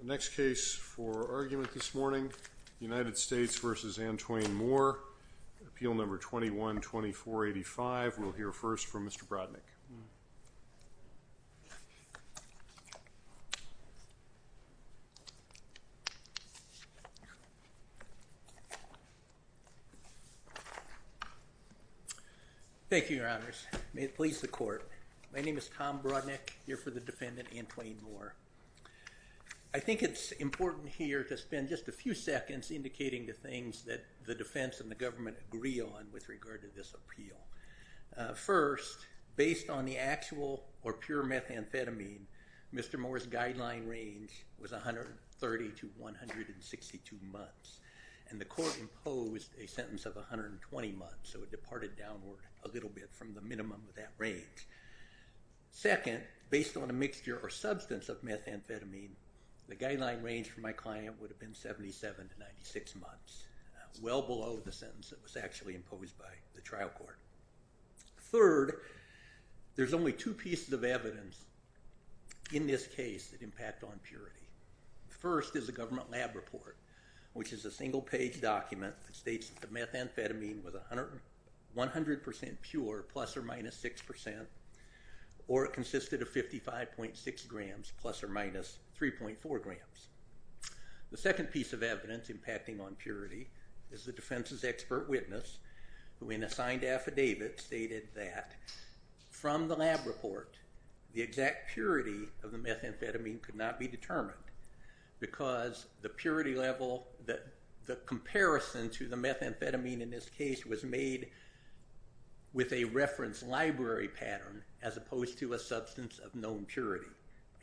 The next case for argument this morning, United States v. Antwain Moore, Appeal No. 21-2485. We'll hear first from Mr. Brodnick. Thank you, Your Honors. May it please the Court. My name is Tom Brodnick, here for the defendant, Antwain Moore. I think it's important here to spend just a few seconds indicating the things that the defense and the government agree on with regard to this appeal. First, based on the actual or pure methamphetamine, Mr. Moore's guideline range was 130 to 162 months. And the Court imposed a sentence of 120 months, so it departed downward a little bit from the minimum of that range. Second, based on a mixture or substance of methamphetamine, the guideline range for my client would have been 77 to 96 months, well below the sentence that was actually imposed by the trial court. Third, there's only two pieces of evidence in this case that impact on purity. The first is a government lab report, which is a single-page document that states that the methamphetamine was 100% pure, plus or minus 6%, or it consisted of 55.6 grams, plus or minus 3.4 grams. The second piece of evidence impacting on purity is the defense's expert witness, who in a signed affidavit, stated that from the lab report, the exact purity of the methamphetamine could not be determined, because the purity level, the comparison to the methamphetamine in this case was made with a reference library pattern, as opposed to a substance of known purity.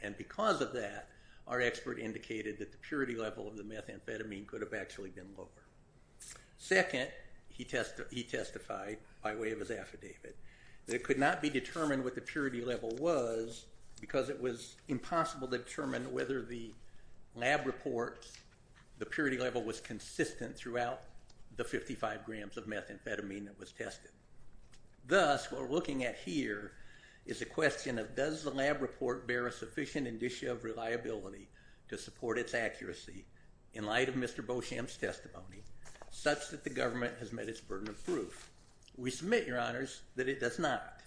And because of that, our expert indicated that the purity level of the methamphetamine could have actually been lower. Second, he testified by way of his affidavit, that it could not be determined what the purity level was, because it was impossible to determine whether the lab report, the purity level, was consistent throughout the 55 grams of methamphetamine that was tested. Thus, what we're looking at here is a question of does the lab report bear a sufficient indicia of reliability to support its accuracy in light of Mr. Beauchamp's testimony, such that the government has met its burden of proof. We submit, Your Honors, that it does not.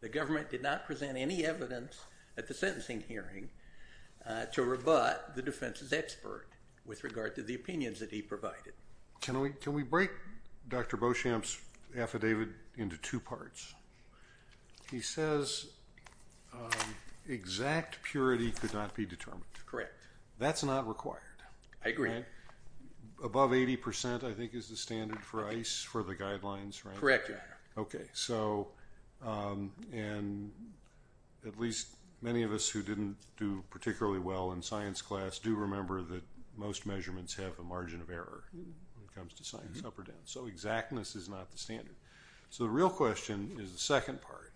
The government did not present any evidence at the sentencing hearing to rebut the defense's expert with regard to the opinions that he provided. Can we break Dr. Beauchamp's affidavit into two parts? He says exact purity could not be determined. Correct. That's not required. I agree. Above 80%, I think, is the standard for ice for the guidelines, right? Correct, Your Honor. Okay. So at least many of us who didn't do particularly well in science class do remember that most measurements have a margin of error when it comes to science up or down. So exactness is not the standard. So the real question is the second part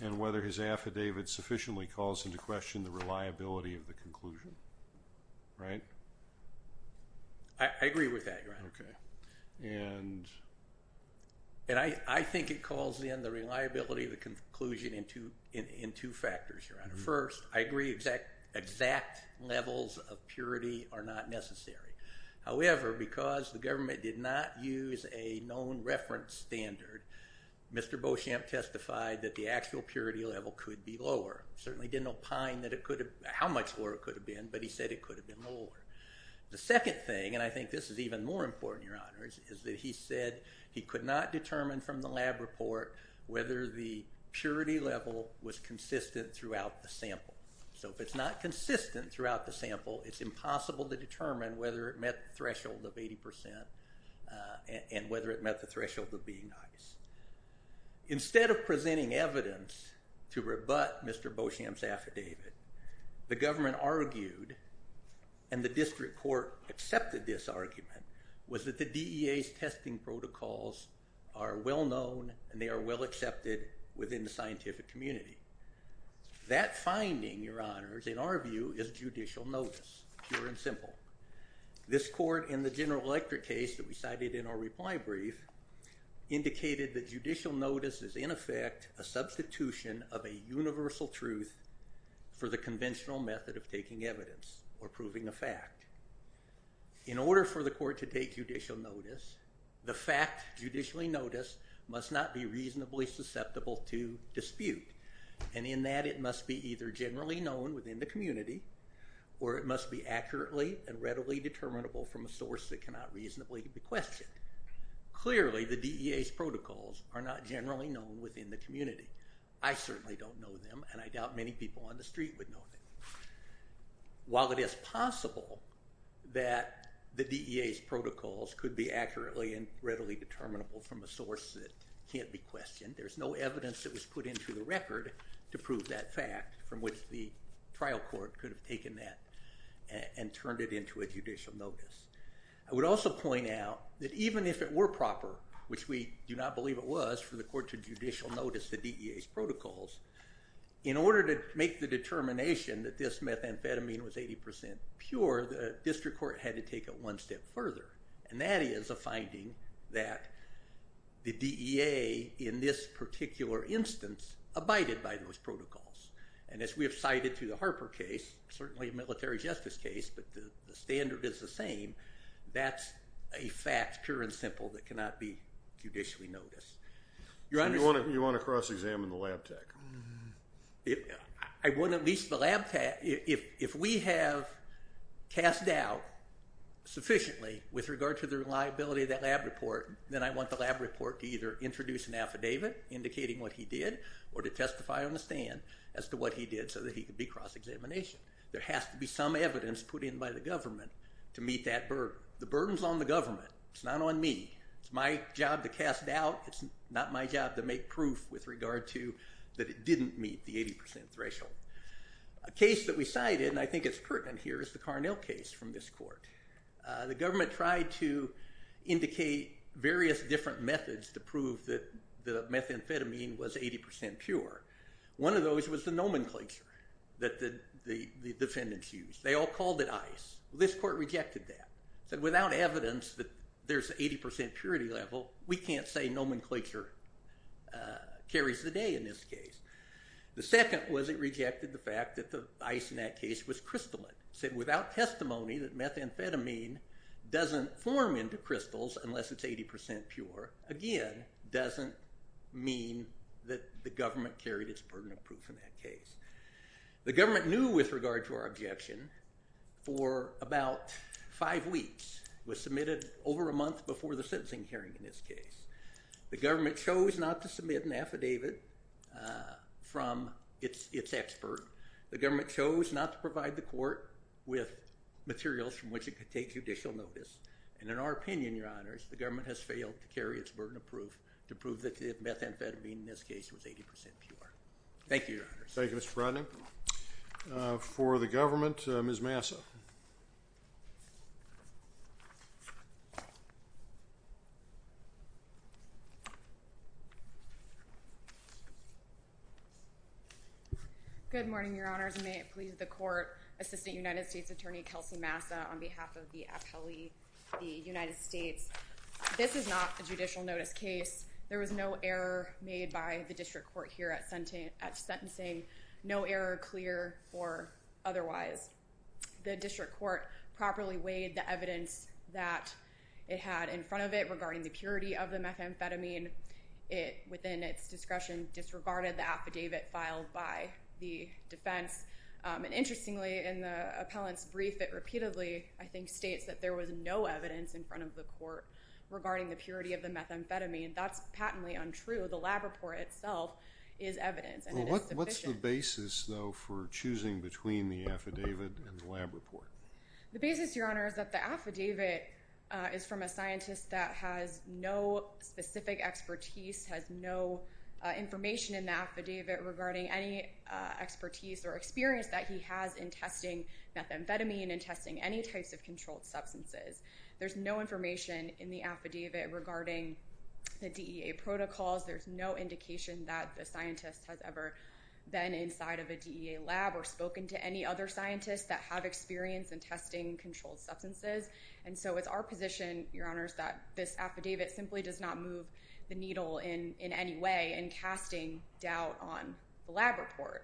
and whether his affidavit sufficiently calls into question the reliability of the conclusion. Right? I agree with that, Your Honor. Okay. And I think it calls in the reliability of the conclusion in two factors, Your Honor. First, I agree exact levels of purity are not necessary. However, because the government did not use a known reference standard, Mr. Beauchamp testified that the actual purity level could be lower. Certainly didn't opine how much lower it could have been, but he said it could have been lower. The second thing, and I think this is even more important, Your Honors, is that he said he could not determine from the lab report whether the purity level was consistent throughout the sample. So if it's not consistent throughout the sample, it's impossible to determine whether it met the threshold of 80% and whether it met the threshold of being nice. Instead of presenting evidence to rebut Mr. Beauchamp's affidavit, the government argued and the district court accepted this argument was that the DEA's testing protocols are well known and they are well accepted within the scientific community. That finding, Your Honors, in our view is judicial notice, pure and simple. This court in the General Electric case that we cited in our reply brief indicated that judicial notice is in effect a substitution of a universal truth for the conventional method of taking evidence or proving a fact. In order for the court to take judicial notice, the fact judicially noticed must not be reasonably susceptible to dispute. And in that it must be either generally known within the community or it must be accurately and readily determinable from a source that cannot reasonably be questioned. Clearly the DEA's protocols are not generally known within the community. I certainly don't know them and I doubt many people on the street would know them. While it is possible that the DEA's protocols could be accurately and readily determinable from a source that can't be questioned, there's no evidence that was put into the record to prove that fact, from which the trial court could have taken that and turned it into a judicial notice. I would also point out that even if it were proper, which we do not believe it was, for the court to judicial notice the DEA's protocols, in order to make the determination that this methamphetamine was 80% pure, the district court had to take it one step further. And that is a finding that the DEA, in this particular instance, abided by those protocols. And as we have cited through the Harper case, certainly a military justice case, but the standard is the same, that's a fact, pure and simple, that cannot be judicially noticed. So you want to cross-examine the lab tech? I want at least the lab tech, if we have cast doubt sufficiently with regard to the reliability of that lab report, then I want the lab report to either introduce an affidavit indicating what he did, or to testify on the stand as to what he did so that he could be cross-examination. There has to be some evidence put in by the government to meet that burden. The burden's on the government, it's not on me. It's my job to cast doubt, it's not my job to make proof with regard to that it didn't meet the 80% threshold. A case that we cited, and I think it's pertinent here, is the Carnell case from this court. The government tried to indicate various different methods to prove that the methamphetamine was 80% pure. One of those was the nomenclature that the defendants used. They all called it ICE. This court rejected that, said without evidence that there's an 80% purity level, we can't say nomenclature carries the day in this case. The second was it rejected the fact that the ICE in that case was crystalline, said without testimony that methamphetamine doesn't form into crystals unless it's 80% pure, again, doesn't mean that the government carried its burden of proof in that case. The government knew with regard to our objection for about five weeks. It was submitted over a month before the sentencing hearing in this case. The government chose not to submit an affidavit from its expert. The government chose not to provide the court with materials from which it could take judicial notice, and in our opinion, Your Honors, the government has failed to carry its burden of proof to prove that the methamphetamine in this case was 80% pure. Thank you, Your Honors. Thank you, Mr. Brodning. For the government, Ms. Massa. Good morning, Your Honors, and may it please the court, Assistant United States Attorney Kelsey Massa on behalf of the appellee, the United States. This is not a judicial notice case. There was no error made by the district court here at sentencing, no error clear or otherwise. The district court properly weighed the evidence that it had in front of it regarding the purity of the methamphetamine. It, within its discretion, disregarded the affidavit filed by the defense, and interestingly, in the appellant's brief, it repeatedly, I think, states that there was no evidence in front of the court regarding the purity of the methamphetamine. That's patently untrue. The lab report itself is evidence, and it is sufficient. What's the basis, though, for choosing between the affidavit and the lab report? The basis, Your Honor, is that the affidavit is from a scientist that has no specific expertise, has no information in the affidavit regarding any expertise or experience that he has in testing methamphetamine and testing any types of controlled substances. There's no information in the affidavit regarding the DEA protocols. There's no indication that the scientist has ever been inside of a DEA lab or spoken to any other scientists that have experience in testing controlled substances. And so it's our position, Your Honor, that this affidavit simply does not move the needle in any way in casting doubt on the lab report.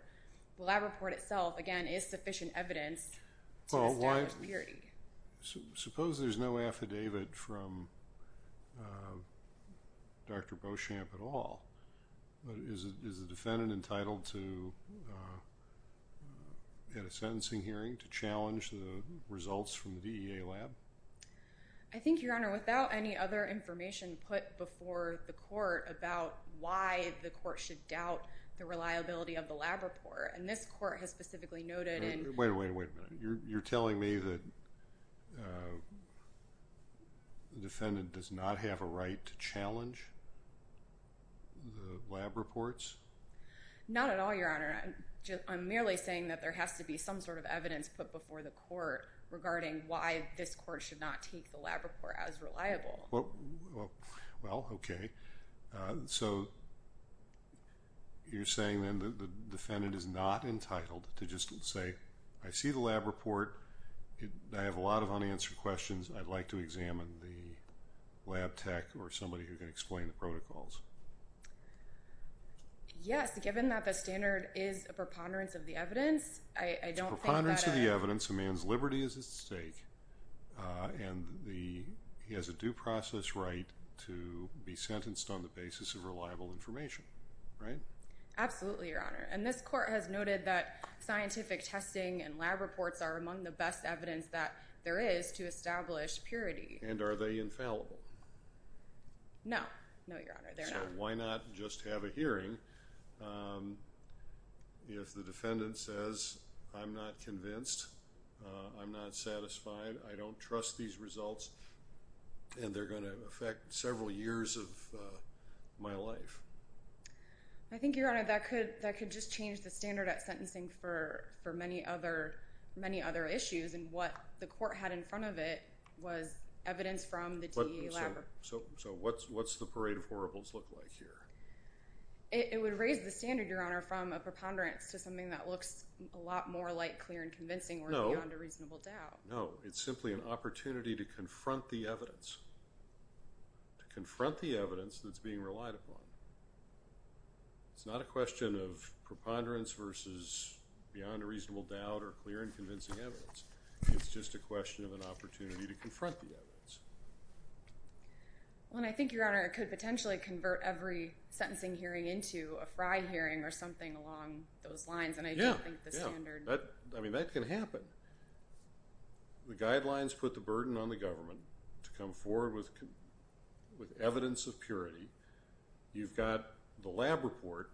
The lab report itself, again, is sufficient evidence to establish purity. Suppose there's no affidavit from Dr. Beauchamp at all. Is the defendant entitled to get a sentencing hearing to challenge the results from the DEA lab? I think, Your Honor, without any other information put before the court about why the court should doubt the reliability of the lab report, and this court has specifically noted in— Wait a minute. You're telling me that the defendant does not have a right to challenge the lab reports? Not at all, Your Honor. I'm merely saying that there has to be some sort of evidence put before the court regarding why this court should not take the lab report as reliable. Well, okay. So you're saying then the defendant is not entitled to just say, I see the lab report. I have a lot of unanswered questions. I'd like to examine the lab tech or somebody who can explain the protocols. Yes, given that the standard is a preponderance of the evidence, I don't think that— It's a preponderance of the evidence. A man's liberty is at stake. And he has a due process right to be sentenced on the basis of reliable information, right? Absolutely, Your Honor. And this court has noted that scientific testing and lab reports are among the best evidence that there is to establish purity. And are they infallible? No. No, Your Honor. They're not. So why not just have a hearing if the defendant says, I'm not convinced. I'm not satisfied. I don't trust these results. And they're going to affect several years of my life. I think, Your Honor, that could just change the standard at sentencing for many other issues. And what the court had in front of it was evidence from the DEA lab report. So what's the parade of horribles look like here? It would raise the standard, Your Honor, from a preponderance to something that looks a lot more like clear and convincing or beyond a reasonable doubt. No. No. It's simply an opportunity to confront the evidence. To confront the evidence that's being relied upon. It's not a question of preponderance versus beyond a reasonable doubt or clear and convincing evidence. It's just a question of an opportunity to confront the evidence. Well, and I think, Your Honor, it could potentially convert every sentencing hearing into a fry hearing or something along those lines. Yeah. Yeah. I mean, that can happen. The guidelines put the burden on the government to come forward with evidence of purity. You've got the lab report.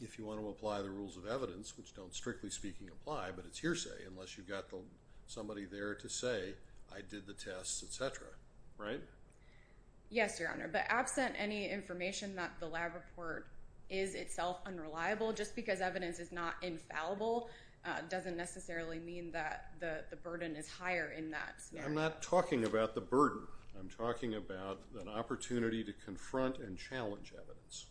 If you want to apply the rules of evidence, which don't strictly speaking apply, but it's hearsay unless you've got somebody there to say, I did the tests, et cetera, right? Yes, Your Honor. But absent any information that the lab report is itself unreliable, just because evidence is not infallible doesn't necessarily mean that the burden is higher in that scenario. I'm not talking about the burden. I'm talking about an opportunity to confront and challenge evidence.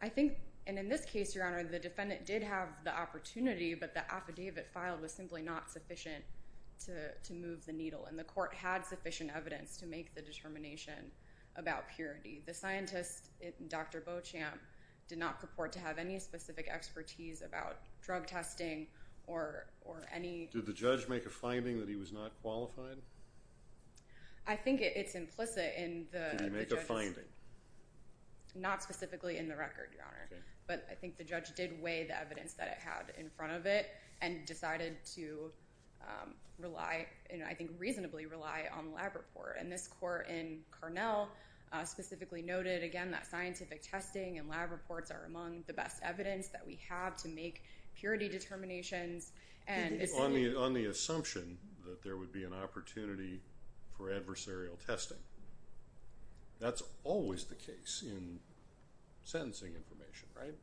I think, and in this case, Your Honor, the defendant did have the opportunity, but the affidavit filed was simply not sufficient to move the needle, and the court had sufficient evidence to make the determination about purity. The scientist, Dr. Beauchamp, did not purport to have any specific expertise about drug testing or any— Did the judge make a finding that he was not qualified? I think it's implicit in the— Did he make a finding? Not specifically in the record, Your Honor. But I think the judge did weigh the evidence that it had in front of it and decided to rely, and I think reasonably rely, on the lab report. And this court in Carnell specifically noted, again, that scientific testing and lab reports are among the best evidence that we have to make purity determinations. On the assumption that there would be an opportunity for adversarial testing, that's always the case in sentencing information, right?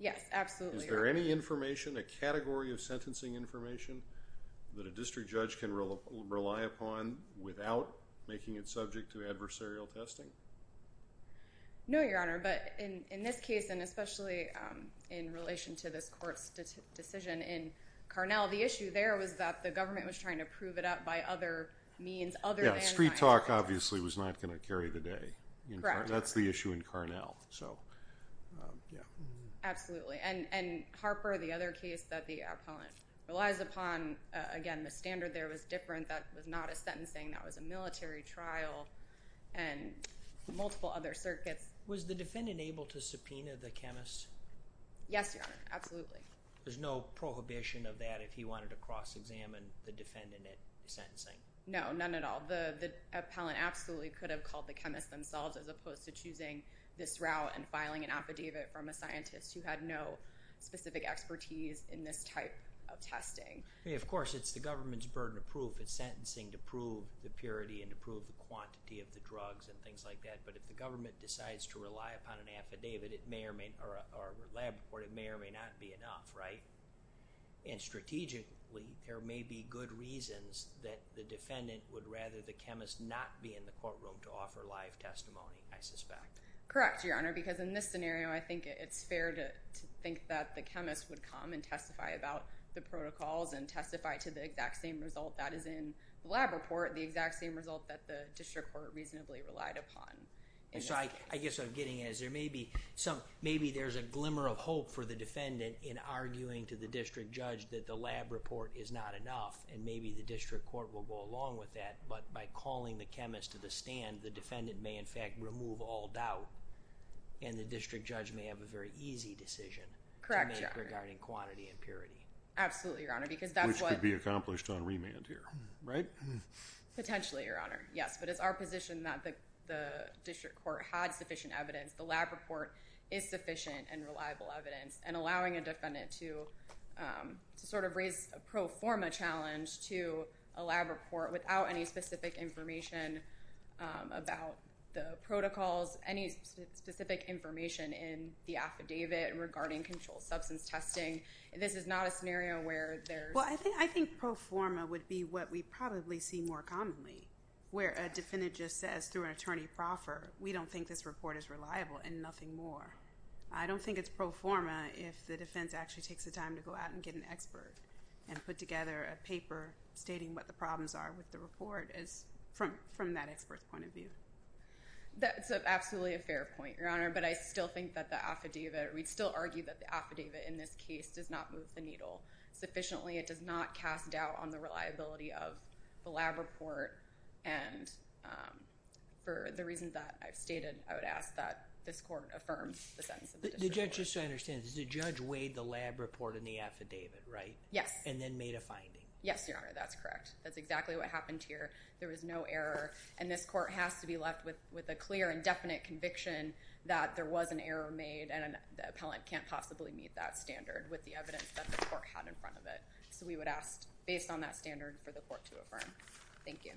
Yes, absolutely, Your Honor. Is there any information, a category of sentencing information, that a district judge can rely upon without making it subject to adversarial testing? No, Your Honor. But in this case, and especially in relation to this court's decision in Carnell, the issue there was that the government was trying to prove it up by other means other than— Yeah, street talk, obviously, was not going to carry the day. Correct. That's the issue in Carnell, so, yeah. Absolutely. And Harper, the other case that the appellant relies upon, again, the standard there was different. That was not a sentencing. That was a military trial. And multiple other circuits. Was the defendant able to subpoena the chemist? Yes, Your Honor, absolutely. There's no prohibition of that if he wanted to cross-examine the defendant at sentencing? No, none at all. The appellant absolutely could have called the chemist themselves as opposed to choosing this route and filing an affidavit from a scientist who had no specific expertise in this type of testing. Of course, it's the government's burden of proof. It's sentencing to prove the purity and to prove the quantity of the drugs and things like that, but if the government decides to rely upon an affidavit or lab report, it may or may not be enough, right? And strategically, there may be good reasons that the defendant would rather the chemist not be in the courtroom to offer live testimony, I suspect. Correct, Your Honor, because in this scenario, I think it's fair to think that the chemist would come and testify about the protocols and testify to the exact same result that is in the lab report, the exact same result that the district court reasonably relied upon. And so I guess I'm getting as there may be some, maybe there's a glimmer of hope for the defendant in arguing to the district judge that the lab report is not enough and maybe the district court will go along with that, but by calling the chemist to the stand, the defendant may in fact remove all doubt and the district judge may have a very easy decision to make regarding quantity and purity. Absolutely, Your Honor, because that's what… Which could be accomplished on remand here, right? Potentially, Your Honor, yes. But it's our position that the district court had sufficient evidence, the lab report is sufficient and reliable evidence, and allowing a defendant to sort of raise a pro forma challenge to a lab report without any specific information about the protocols, any specific information in the affidavit regarding controlled substance testing, this is not a scenario where there's… Well, I think pro forma would be what we probably see more commonly where a defendant just says through an attorney proffer, we don't think this report is reliable and nothing more. I don't think it's pro forma if the defense actually takes the time to go out and get an expert and put together a paper stating what the problems are with the report from that expert's point of view. That's absolutely a fair point, Your Honor, but I still think that the affidavit, we'd still argue that the affidavit in this case does not move the needle sufficiently. It does not cast doubt on the reliability of the lab report, and for the reasons that I've stated, I would ask that this court affirms the sentence of the district court. Just so I understand, the judge weighed the lab report and the affidavit, right? Yes. And then made a finding. Yes, Your Honor, that's correct. That's exactly what happened here. There was no error, and this court has to be left with a clear and definite conviction that there was an error made and the appellant can't possibly meet that standard with the evidence that the court had in front of it. So we would ask, based on that standard, for the court to affirm. Thank you.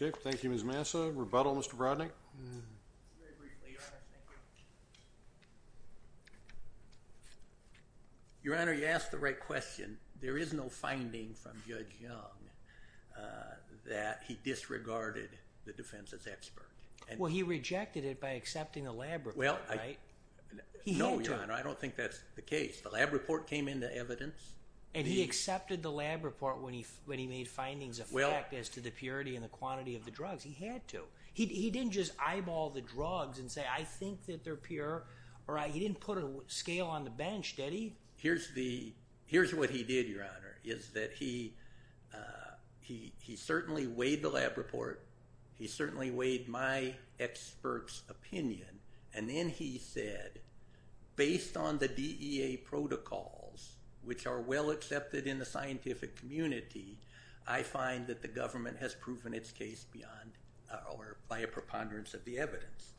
Okay, thank you, Ms. Massa. Rebuttal, Mr. Brodnick? Very briefly, Your Honor. Thank you. Your Honor, you asked the right question. There is no finding from Judge Young that he disregarded the defense's expert. Well, he rejected it by accepting the lab report, right? No, Your Honor, I don't think that's the case. The lab report came into evidence. And he accepted the lab report when he made findings of fact as to the purity and the quantity of the drugs. He had to. He didn't just eyeball the drugs and say, I think that they're pure. He didn't put a scale on the bench, did he? Here's what he did, Your Honor, is that he certainly weighed the lab report. He certainly weighed my expert's opinion. And then he said, based on the DEA protocols, which are well accepted in the scientific community, I find that the government has proven its case beyond or by a preponderance of the evidence.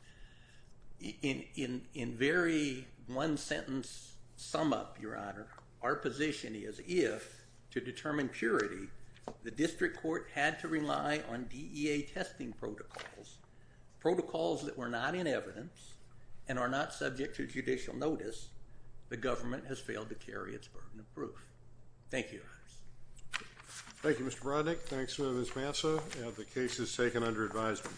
In very one sentence sum up, Your Honor, our position is if, to determine purity, the district court had to rely on DEA testing protocols, protocols that were not in evidence and are not subject to judicial notice, the government has failed to carry its burden of proof. Thank you, Your Honor. Thank you, Mr. Brodnick. Thanks, Ms. Manzo. The case is taken under advisement.